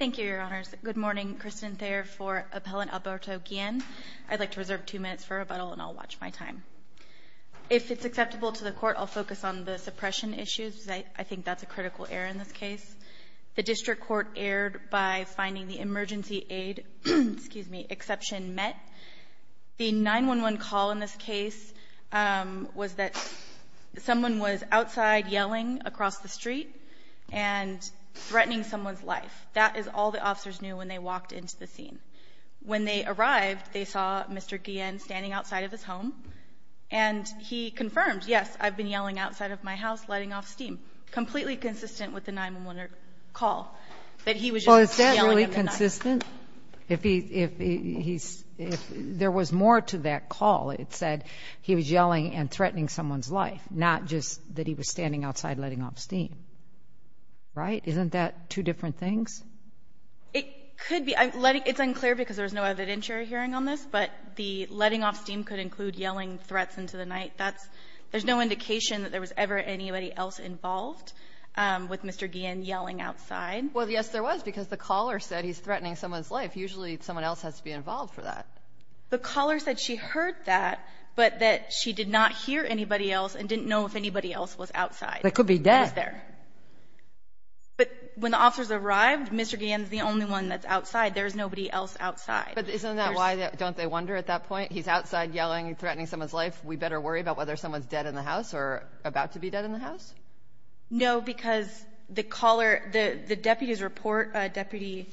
I'd like to reserve two minutes for rebuttal, and I'll watch my time. If it's acceptable to the Court, I'll focus on the suppression issues, because I think that's a critical error in this case. The District Court erred by finding the emergency aid exception met. The 911 call in this case was that someone was outside yelling across the street and threatening someone's life. That is all the officers knew when they walked into the scene. When they arrived, they saw Mr. Guillen standing outside of his home, and he confirmed, yes, I've been yelling outside of my house, letting off steam, completely consistent with the 911 call, that he was just yelling. Well, is that really consistent? If there was more to that call, it said he was yelling and threatening someone's life, not just that he was standing outside letting off steam. Right? Isn't that two different things? It could be. It's unclear because there's no evidentiary hearing on this, but the letting off steam could include yelling threats into the night. That's — there's no indication that there was ever anybody else involved with Mr. Guillen yelling outside. Well, yes, there was, because the caller said he's threatening someone's life. Usually, someone else has to be involved for that. The caller said she heard that, but that she did not hear anybody else and didn't know if anybody else was outside. That could be dead. It was there. But when the officers arrived, Mr. Guillen's the only one that's outside. There's nobody else outside. But isn't that why, don't they wonder at that point? He's outside yelling and threatening someone's life. We better worry about whether someone's dead in the house or about to be dead in the house? No, because the caller — the deputy's report, Deputy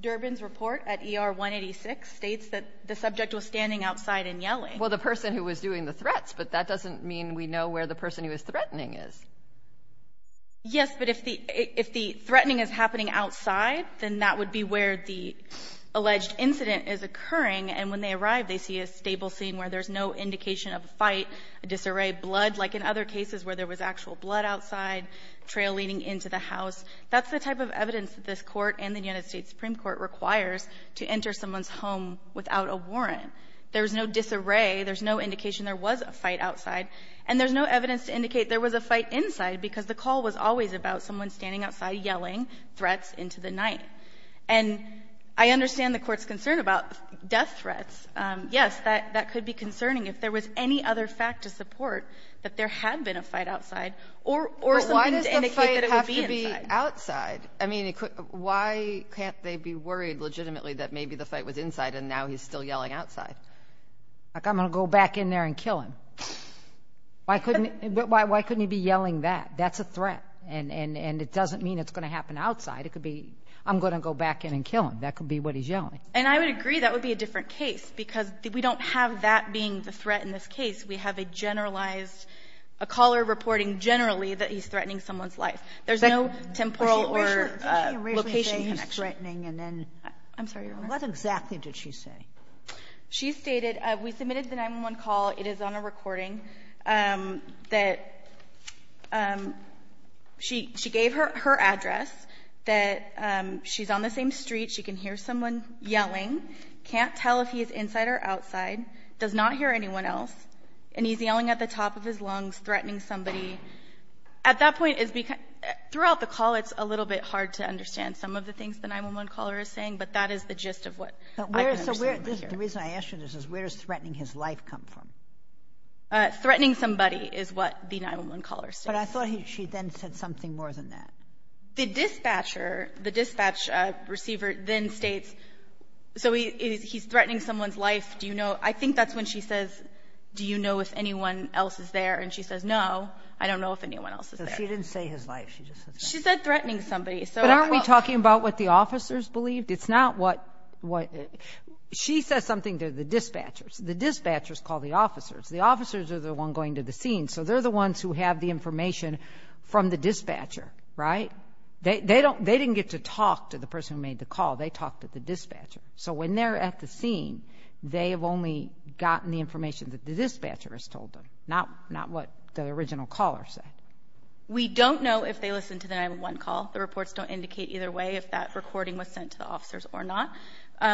Durbin's report at ER 186 states that the subject was standing outside and yelling. Well, the person who was doing the threats, but that doesn't mean we know where the person who was threatening is. Yes, but if the — if the threatening is happening outside, then that would be where the alleged incident is occurring. And when they arrive, they see a stable scene where there's no indication of a fight, a disarray of blood, like in other cases where there was actual blood outside, trail leading into the house. That's the type of evidence that this Court and the United States Supreme Court requires to enter someone's home without a warrant. There's no disarray. There's no indication there was a fight outside. And there's no evidence to indicate there was a fight inside because the call was always about someone standing outside yelling threats into the night. And I understand the Court's concern about death threats. Yes, that could be concerning if there was any other fact to support that there had been a fight outside or something to indicate that it would be inside. But why does the fight have to be outside? I mean, why can't they be worried legitimately that maybe the fight was inside and now he's still yelling outside? Like, I'm going to go back in there and kill him. Why couldn't he be yelling that? That's a threat. And it doesn't mean it's going to happen outside. It could be I'm going to go back in and kill him. That could be what he's yelling. And I would agree that would be a different case because we don't have that being the threat in this case. We have a generalized, a caller reporting generally that he's threatening someone's life. There's no temporal or location connection. What exactly did she say? She stated, we submitted the 911 call. It is on a recording that she gave her address, that she's on the same street. She can hear someone yelling. Can't tell if he's inside or outside. Does not hear anyone else. And he's yelling at the top of his lungs, threatening somebody. At that point, throughout the call, it's a little bit hard to understand some of the what the 911 caller is saying, but that is the gist of what I can understand. The reason I ask you this is where does threatening his life come from? Threatening somebody is what the 911 caller said. But I thought she then said something more than that. The dispatcher, the dispatch receiver then states, so he's threatening someone's life. Do you know? I think that's when she says, do you know if anyone else is there? And she says, no, I don't know if anyone else is there. She didn't say his life. She said threatening somebody. But aren't we talking about what the officers believed? It's not what she says something to the dispatchers. The dispatchers call the officers. The officers are the ones going to the scene, so they're the ones who have the information from the dispatcher, right? They didn't get to talk to the person who made the call. They talked to the dispatcher. So when they're at the scene, they have only gotten the information that the dispatcher has told them, not what the original caller said. We don't know if they listened to the 911 call. The reports don't indicate either way if that recording was sent to the officers or not.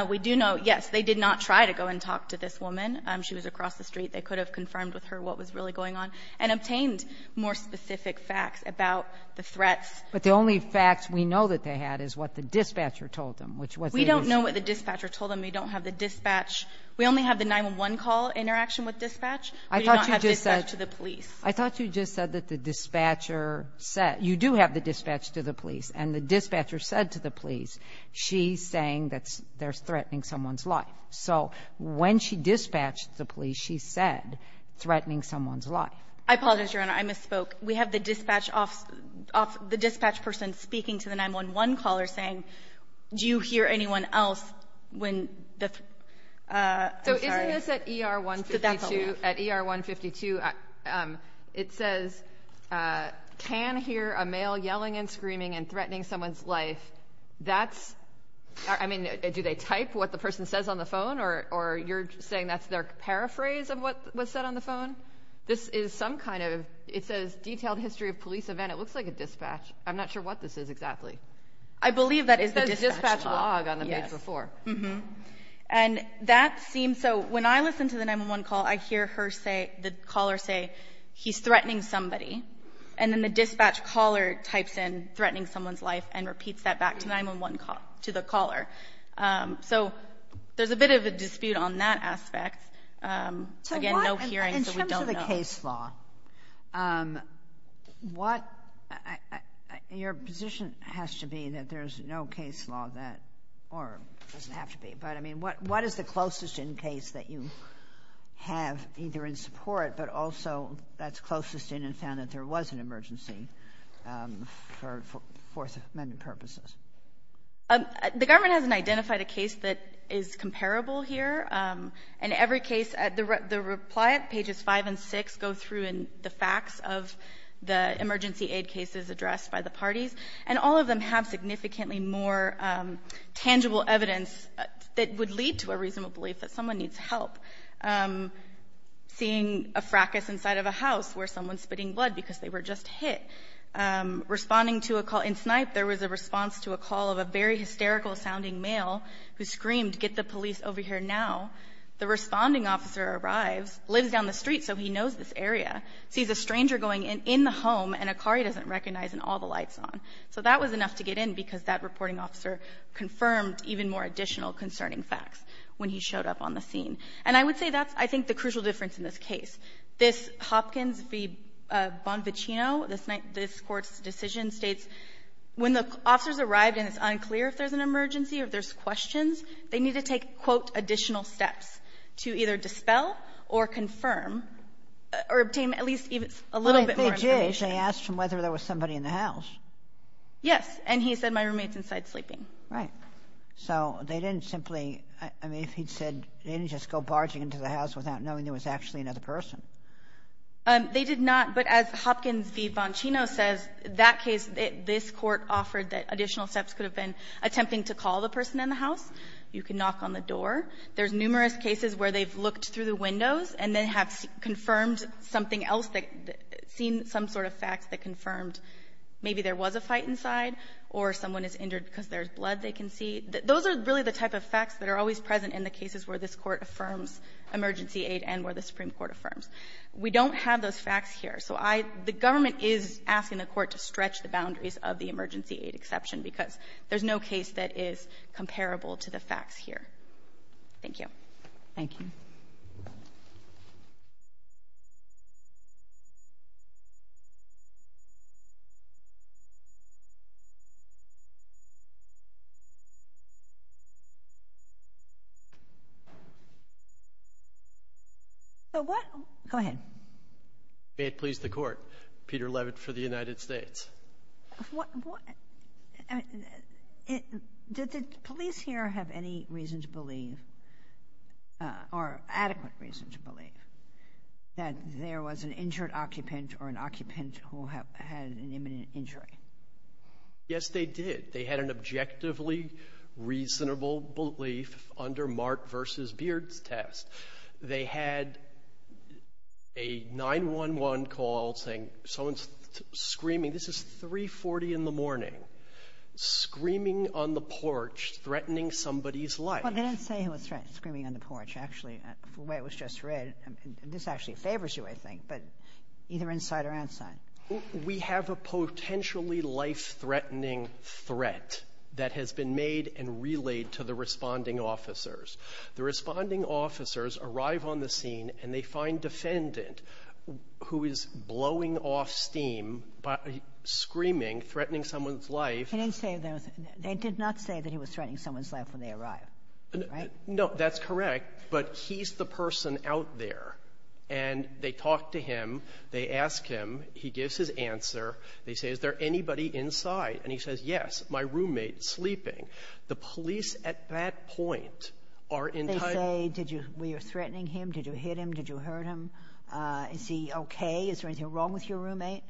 We do know, yes, they did not try to go and talk to this woman. She was across the street. They could have confirmed with her what was really going on and obtained more specific facts about the threats. But the only facts we know that they had is what the dispatcher told them, which was the issue. We don't know what the dispatcher told them. We don't have the dispatch. We only have the 911 call interaction with dispatch. We do not have dispatch to the police. I thought you just said that the dispatcher said. You do have the dispatch to the police. And the dispatcher said to the police, she's saying that they're threatening someone's life. So when she dispatched the police, she said threatening someone's life. I apologize, Your Honor. I misspoke. We have the dispatch off the dispatch person speaking to the 911 caller saying, do you hear anyone else when the, I'm sorry. So isn't this at ER 152? At ER 152, it says, can hear a male yelling and screaming and threatening someone's life. That's, I mean, do they type what the person says on the phone? Or you're saying that's their paraphrase of what was said on the phone? This is some kind of, it says detailed history of police event. It looks like a dispatch. I'm not sure what this is exactly. I believe that is the dispatch log on the page before. Mm-hmm. And that seems so. When I listen to the 911 call, I hear her say, the caller say, he's threatening somebody. And then the dispatch caller types in threatening someone's life and repeats that back to 911 call, to the caller. So there's a bit of a dispute on that aspect. Again, no hearing, so we don't know. In terms of the case law, what, your position has to be that there's no case law that, or it doesn't have to be. But, I mean, what is the closest in case that you have either in support, but also that's closest in and found that there was an emergency for Fourth Amendment purposes? The government hasn't identified a case that is comparable here. In every case, the reply at pages 5 and 6 go through the facts of the emergency aid cases addressed by the parties. And all of them have significantly more tangible evidence that would lead to a reasonable belief that someone needs help. Seeing a fracas inside of a house where someone's spitting blood because they were just hit. Responding to a call in Snipe, there was a response to a call of a very hysterical sounding male who screamed, get the police over here now. The responding officer arrives, lives down the street so he knows this area, sees a stranger going in the home and a car he doesn't recognize and all the lights on. So that was enough to get in because that reporting officer confirmed even more additional concerning facts when he showed up on the scene. And I would say that's, I think, the crucial difference in this case. This Hopkins v. Bonvicino, this Court's decision states when the officer's arrived and it's unclear if there's an emergency or if there's questions, they need to take, quote, additional steps to either dispel or confirm or obtain at least a little bit more information. They did. They asked him whether there was somebody in the house. Yes. And he said my roommate's inside sleeping. Right. So they didn't simply, I mean, if he'd said, they didn't just go barging into the house without knowing there was actually another person. They did not. But as Hopkins v. Bonvicino says, that case, this Court offered that additional steps could have been attempting to call the person in the house. You can knock on the door. There's numerous cases where they've looked through the windows and then have confirmed something else, seen some sort of facts that confirmed maybe there was a fight inside or someone is injured because there's blood they can see. Those are really the type of facts that are always present in the cases where this Court affirms emergency aid and where the Supreme Court affirms. We don't have those facts here. So I, the government is asking the Court to stretch the boundaries of the emergency aid exception because there's no case that is comparable to the facts here. Thank you. Thank you. So what go ahead. May it please the Court, Peter Levitt for the United States. What, did the police here have any reason to believe or adequate reason to believe that there was an injured occupant or an occupant who had an imminent injury? Yes, they did. They had an objectively reasonable belief under Mark v. Beard's test. They had a 911 call saying someone's screaming. This is 340 in the morning. Screaming on the porch, threatening somebody's life. Well, they didn't say he was screaming on the porch, actually. The way it was just read, this actually favors you, I think. But either inside or outside. We have a potentially life-threatening threat that has been made and relayed to the responding officers. The responding officers arrive on the scene, and they find defendant who is blowing off steam by screaming, threatening someone's life. He didn't say that. They did not say that he was threatening someone's life when they arrived, right? No, that's correct. But he's the person out there. And they talk to him. They ask him. He gives his answer. They say, is there anybody inside? And he says, yes, my roommate sleeping. The police at that point are in tight ---- They say, did you ---- were you threatening him? Did you hit him? Did you hurt him? Is he okay? Is there anything wrong with your roommate?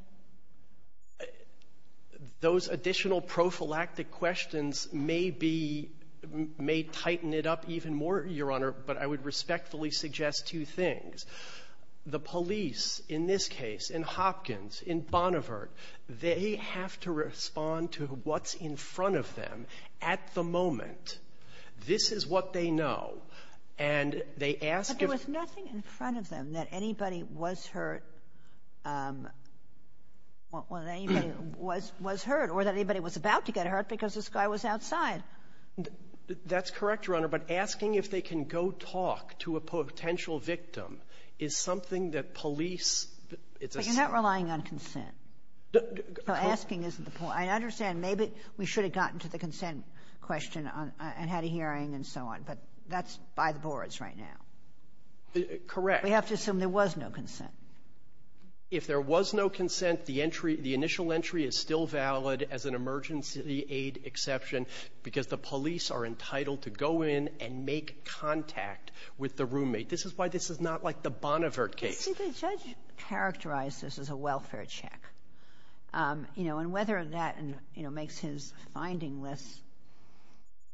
Those additional prophylactic questions may be ---- may tighten it up even more, Your Honor. But I would respectfully suggest two things. The police in this case, in Hopkins, in Bonnevert, they have to respond to what's in front of them at the moment. This is what they know. And they ask if ---- But there was nothing in front of them that anybody was hurt or that anybody was hurt or that anybody was about to get hurt because this guy was outside. That's correct, Your Honor. But asking if they can go talk to a potential victim is something that police ---- But you're not relying on consent. So asking isn't the point. I understand. Maybe we should have gotten to the consent question and had a hearing and so on. But that's by the boards right now. Correct. We have to assume there was no consent. If there was no consent, the entry ---- the initial entry is still valid as an emergency aid exception because the police are entitled to go in and make contact with the roommate. This is why this is not like the Bonnevert case. I think the judge characterized this as a welfare check, you know, and whether that, you know, makes his finding less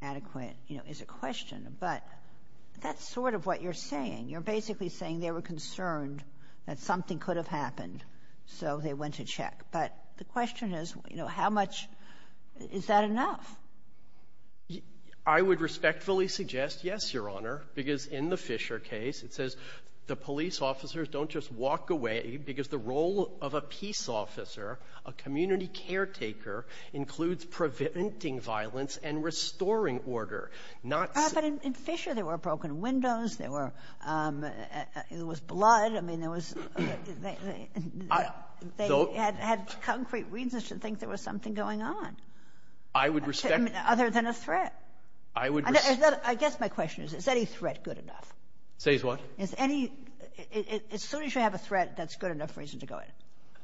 adequate, you know, is a question. But that's sort of what you're saying. You're basically saying they were concerned that something could have happened, so they went to check. But the question is, you know, how much ---- is that enough? I would respectfully suggest, yes, Your Honor, because in the Fisher case, it says the police officers don't just walk away because the role of a peace officer, a community caretaker, includes preventing violence and restoring order, not ---- But in Fisher, there were broken windows. There were ---- it was blood. I mean, there was ---- they had concrete reasons to think there was something going on. I would respect ---- Other than a threat. I would respect ---- I guess my question is, is any threat good enough? Says what? Is any ---- as soon as you have a threat, that's good enough reason to go in.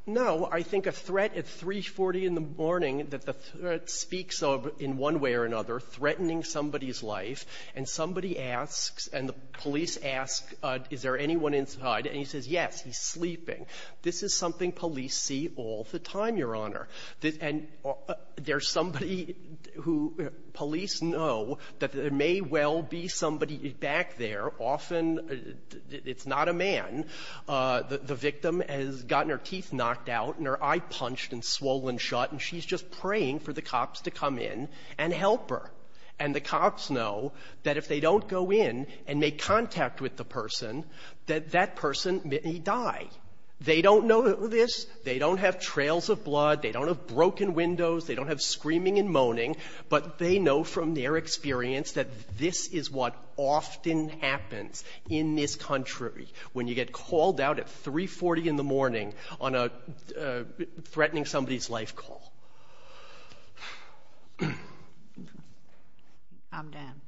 No. I think a threat at 340 in the morning, that the threat speaks of, in one way or another, threatening somebody's life. And somebody asks, and the police ask, is there anyone inside? And he says, yes. He's sleeping. This is something police see all the time, Your Honor. And there's somebody who ---- police know that there may well be somebody back there often. It's not a man. The victim has gotten her teeth knocked out and her eye punched and swollen shut, and she's just praying for the cops to come in and help her. And the cops know that if they don't go in and make contact with the person, that that person may die. They don't know this. They don't have trails of blood. They don't have broken windows. They don't have screaming and moaning. But they know from their experience that this is what often happens in this country, when you get called out at 340 in the morning on a threatening somebody's life call. I'm done.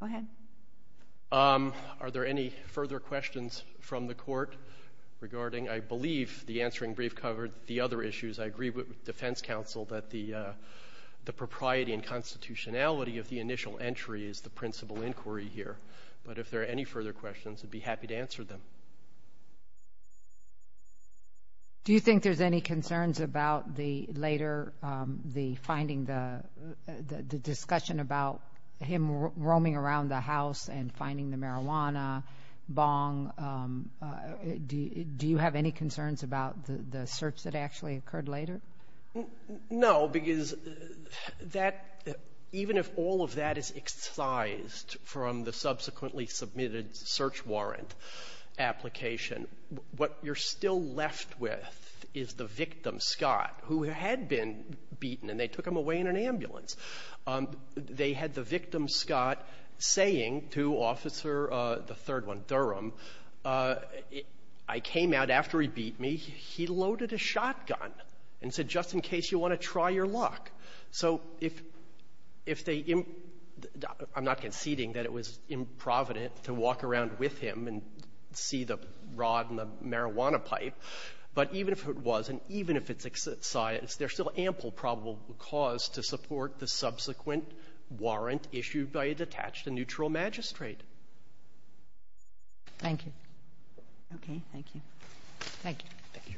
Go ahead. Are there any further questions from the Court regarding, I believe, the answering brief covered the other issues. I agree with Defense Counsel that the propriety and constitutionality of the initial entry is the principal inquiry here. But if there are any further questions, I'd be happy to answer them. Do you think there's any concerns about the later, the finding the, the discussion about him roaming around the house and finding the marijuana, bong, do you have any concerns about the search that actually occurred later? No, because that, even if all of that is excised from the subsequently submitted search warrant application, what you're still left with is the victim, Scott, who had been beaten, and they took him away in an ambulance. They had the victim, Scott, saying to Officer, the third one, Durham, I came out and after he beat me, he loaded a shotgun and said, just in case, you want to try your luck. So if, if they, I'm not conceding that it was improvident to walk around with him and see the rod and the marijuana pipe, but even if it was, and even if it's excised, there's still ample probable cause to support the subsequent warrant issued by a detached and neutral magistrate. Thank you. Okay. Thank you. Thank you. Thank you.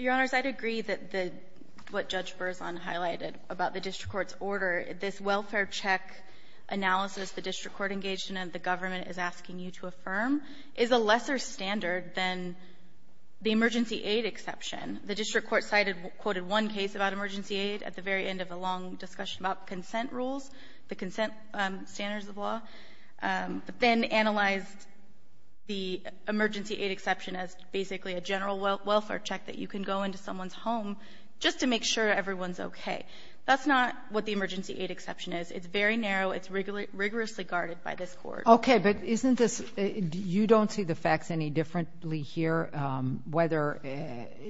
Your Honors, I'd agree that the, what Judge Berzon highlighted about the district court's order, this welfare check analysis the district court engaged in and the government is asking you to affirm, is a lesser standard than the emergency aid exception. The district court cited, quoted one case about emergency aid at the very end of a long discussion about consent rules, the consent standards of law, but then analyzed the emergency aid exception as basically a general welfare check that you can go into someone's home just to make sure everyone's okay. That's not what the emergency aid exception is. It's very narrow. It's rigorously guarded by this Court. Okay, but isn't this, you don't see the facts any differently here, whether,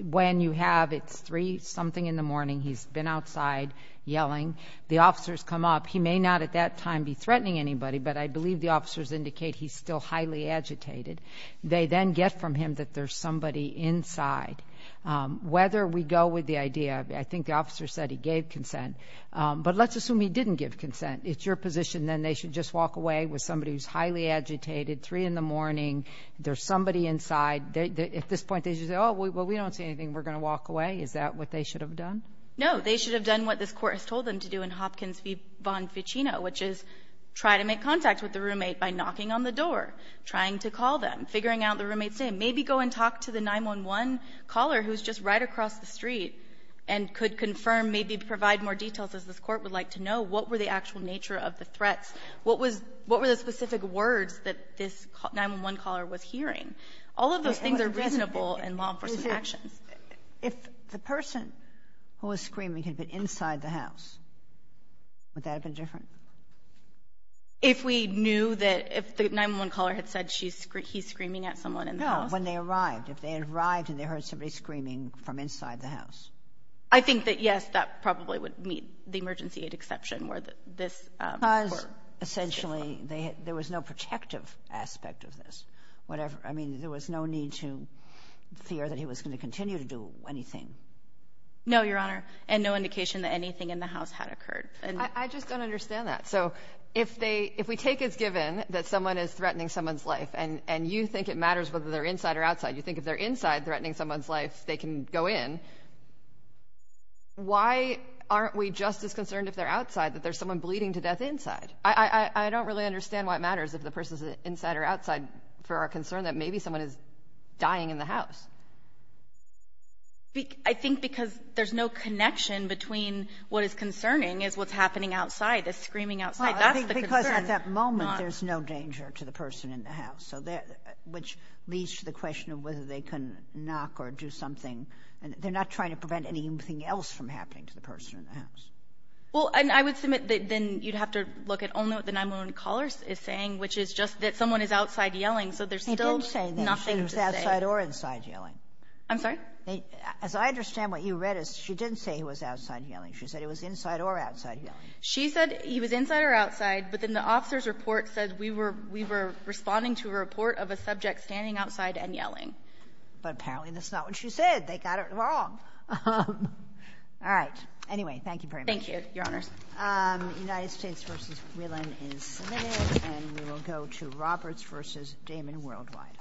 when you have, it's three something in the morning, he's been outside yelling, the officers come up, he may not at that time be threatening anybody, but I believe the officers indicate he's still highly agitated. They then get from him that there's somebody inside. Whether we go with the idea, I think the officer said he gave consent, but let's assume he didn't give consent. It's your position then they should just walk away with somebody who's highly agitated, three in the morning, there's somebody inside. At this point, they should say, oh, well, we don't see anything, we're going to walk away? Is that what they should have done? No. They should have done what this Court has told them to do in Hopkins v. Bonficino, which is try to make contact with the roommate by knocking on the door, trying to call them, figuring out the roommate's name, maybe go and talk to the 911 caller who's just right across the street and could confirm, maybe provide more details, as this Court would like to know, what were the actual nature of the threats? What was the specific words that this 911 caller was hearing? All of those things are reasonable in law enforcement actions. If the person who was screaming had been inside the house, would that have been different? If we knew that if the 911 caller had said he's screaming at someone in the house. No, when they arrived. If they arrived and they heard somebody screaming from inside the house. I think that yes, that probably would meet the emergency aid exception where this Court. Because essentially there was no protective aspect of this. I mean, there was no need to fear that he was going to continue to do anything. No, Your Honor, and no indication that anything in the house had occurred. I just don't understand that. So if we take as given that someone is threatening someone's life and you think it matters whether they're inside or outside, you think if they're inside threatening someone's life, they can go in. Why aren't we just as concerned if they're outside that there's someone bleeding to death inside? I don't really understand why it matters if the person's inside or outside for our concern that maybe someone is dying in the house. I think because there's no connection between what is concerning is what's happening outside, the screaming outside. That's the concern. Because at that moment, there's no danger to the person in the house. So they're — which leads to the question of whether they can knock or do something. They're not trying to prevent anything else from happening to the person in the house. Well, and I would submit that then you'd have to look at only what the 9-1-1 caller is saying, which is just that someone is outside yelling, so there's still nothing to say. They didn't say that he was outside or inside yelling. I'm sorry? As I understand, what you read is she didn't say he was outside yelling. She said he was inside or outside yelling. She said he was inside or outside, but then the officer's report said we were — we had a report of a subject standing outside and yelling. But apparently that's not what she said. They got it wrong. All right. Anyway, thank you very much. Thank you, Your Honors. United States v. Whelan is submitted, and we will go to Roberts v. Damon Worldwide.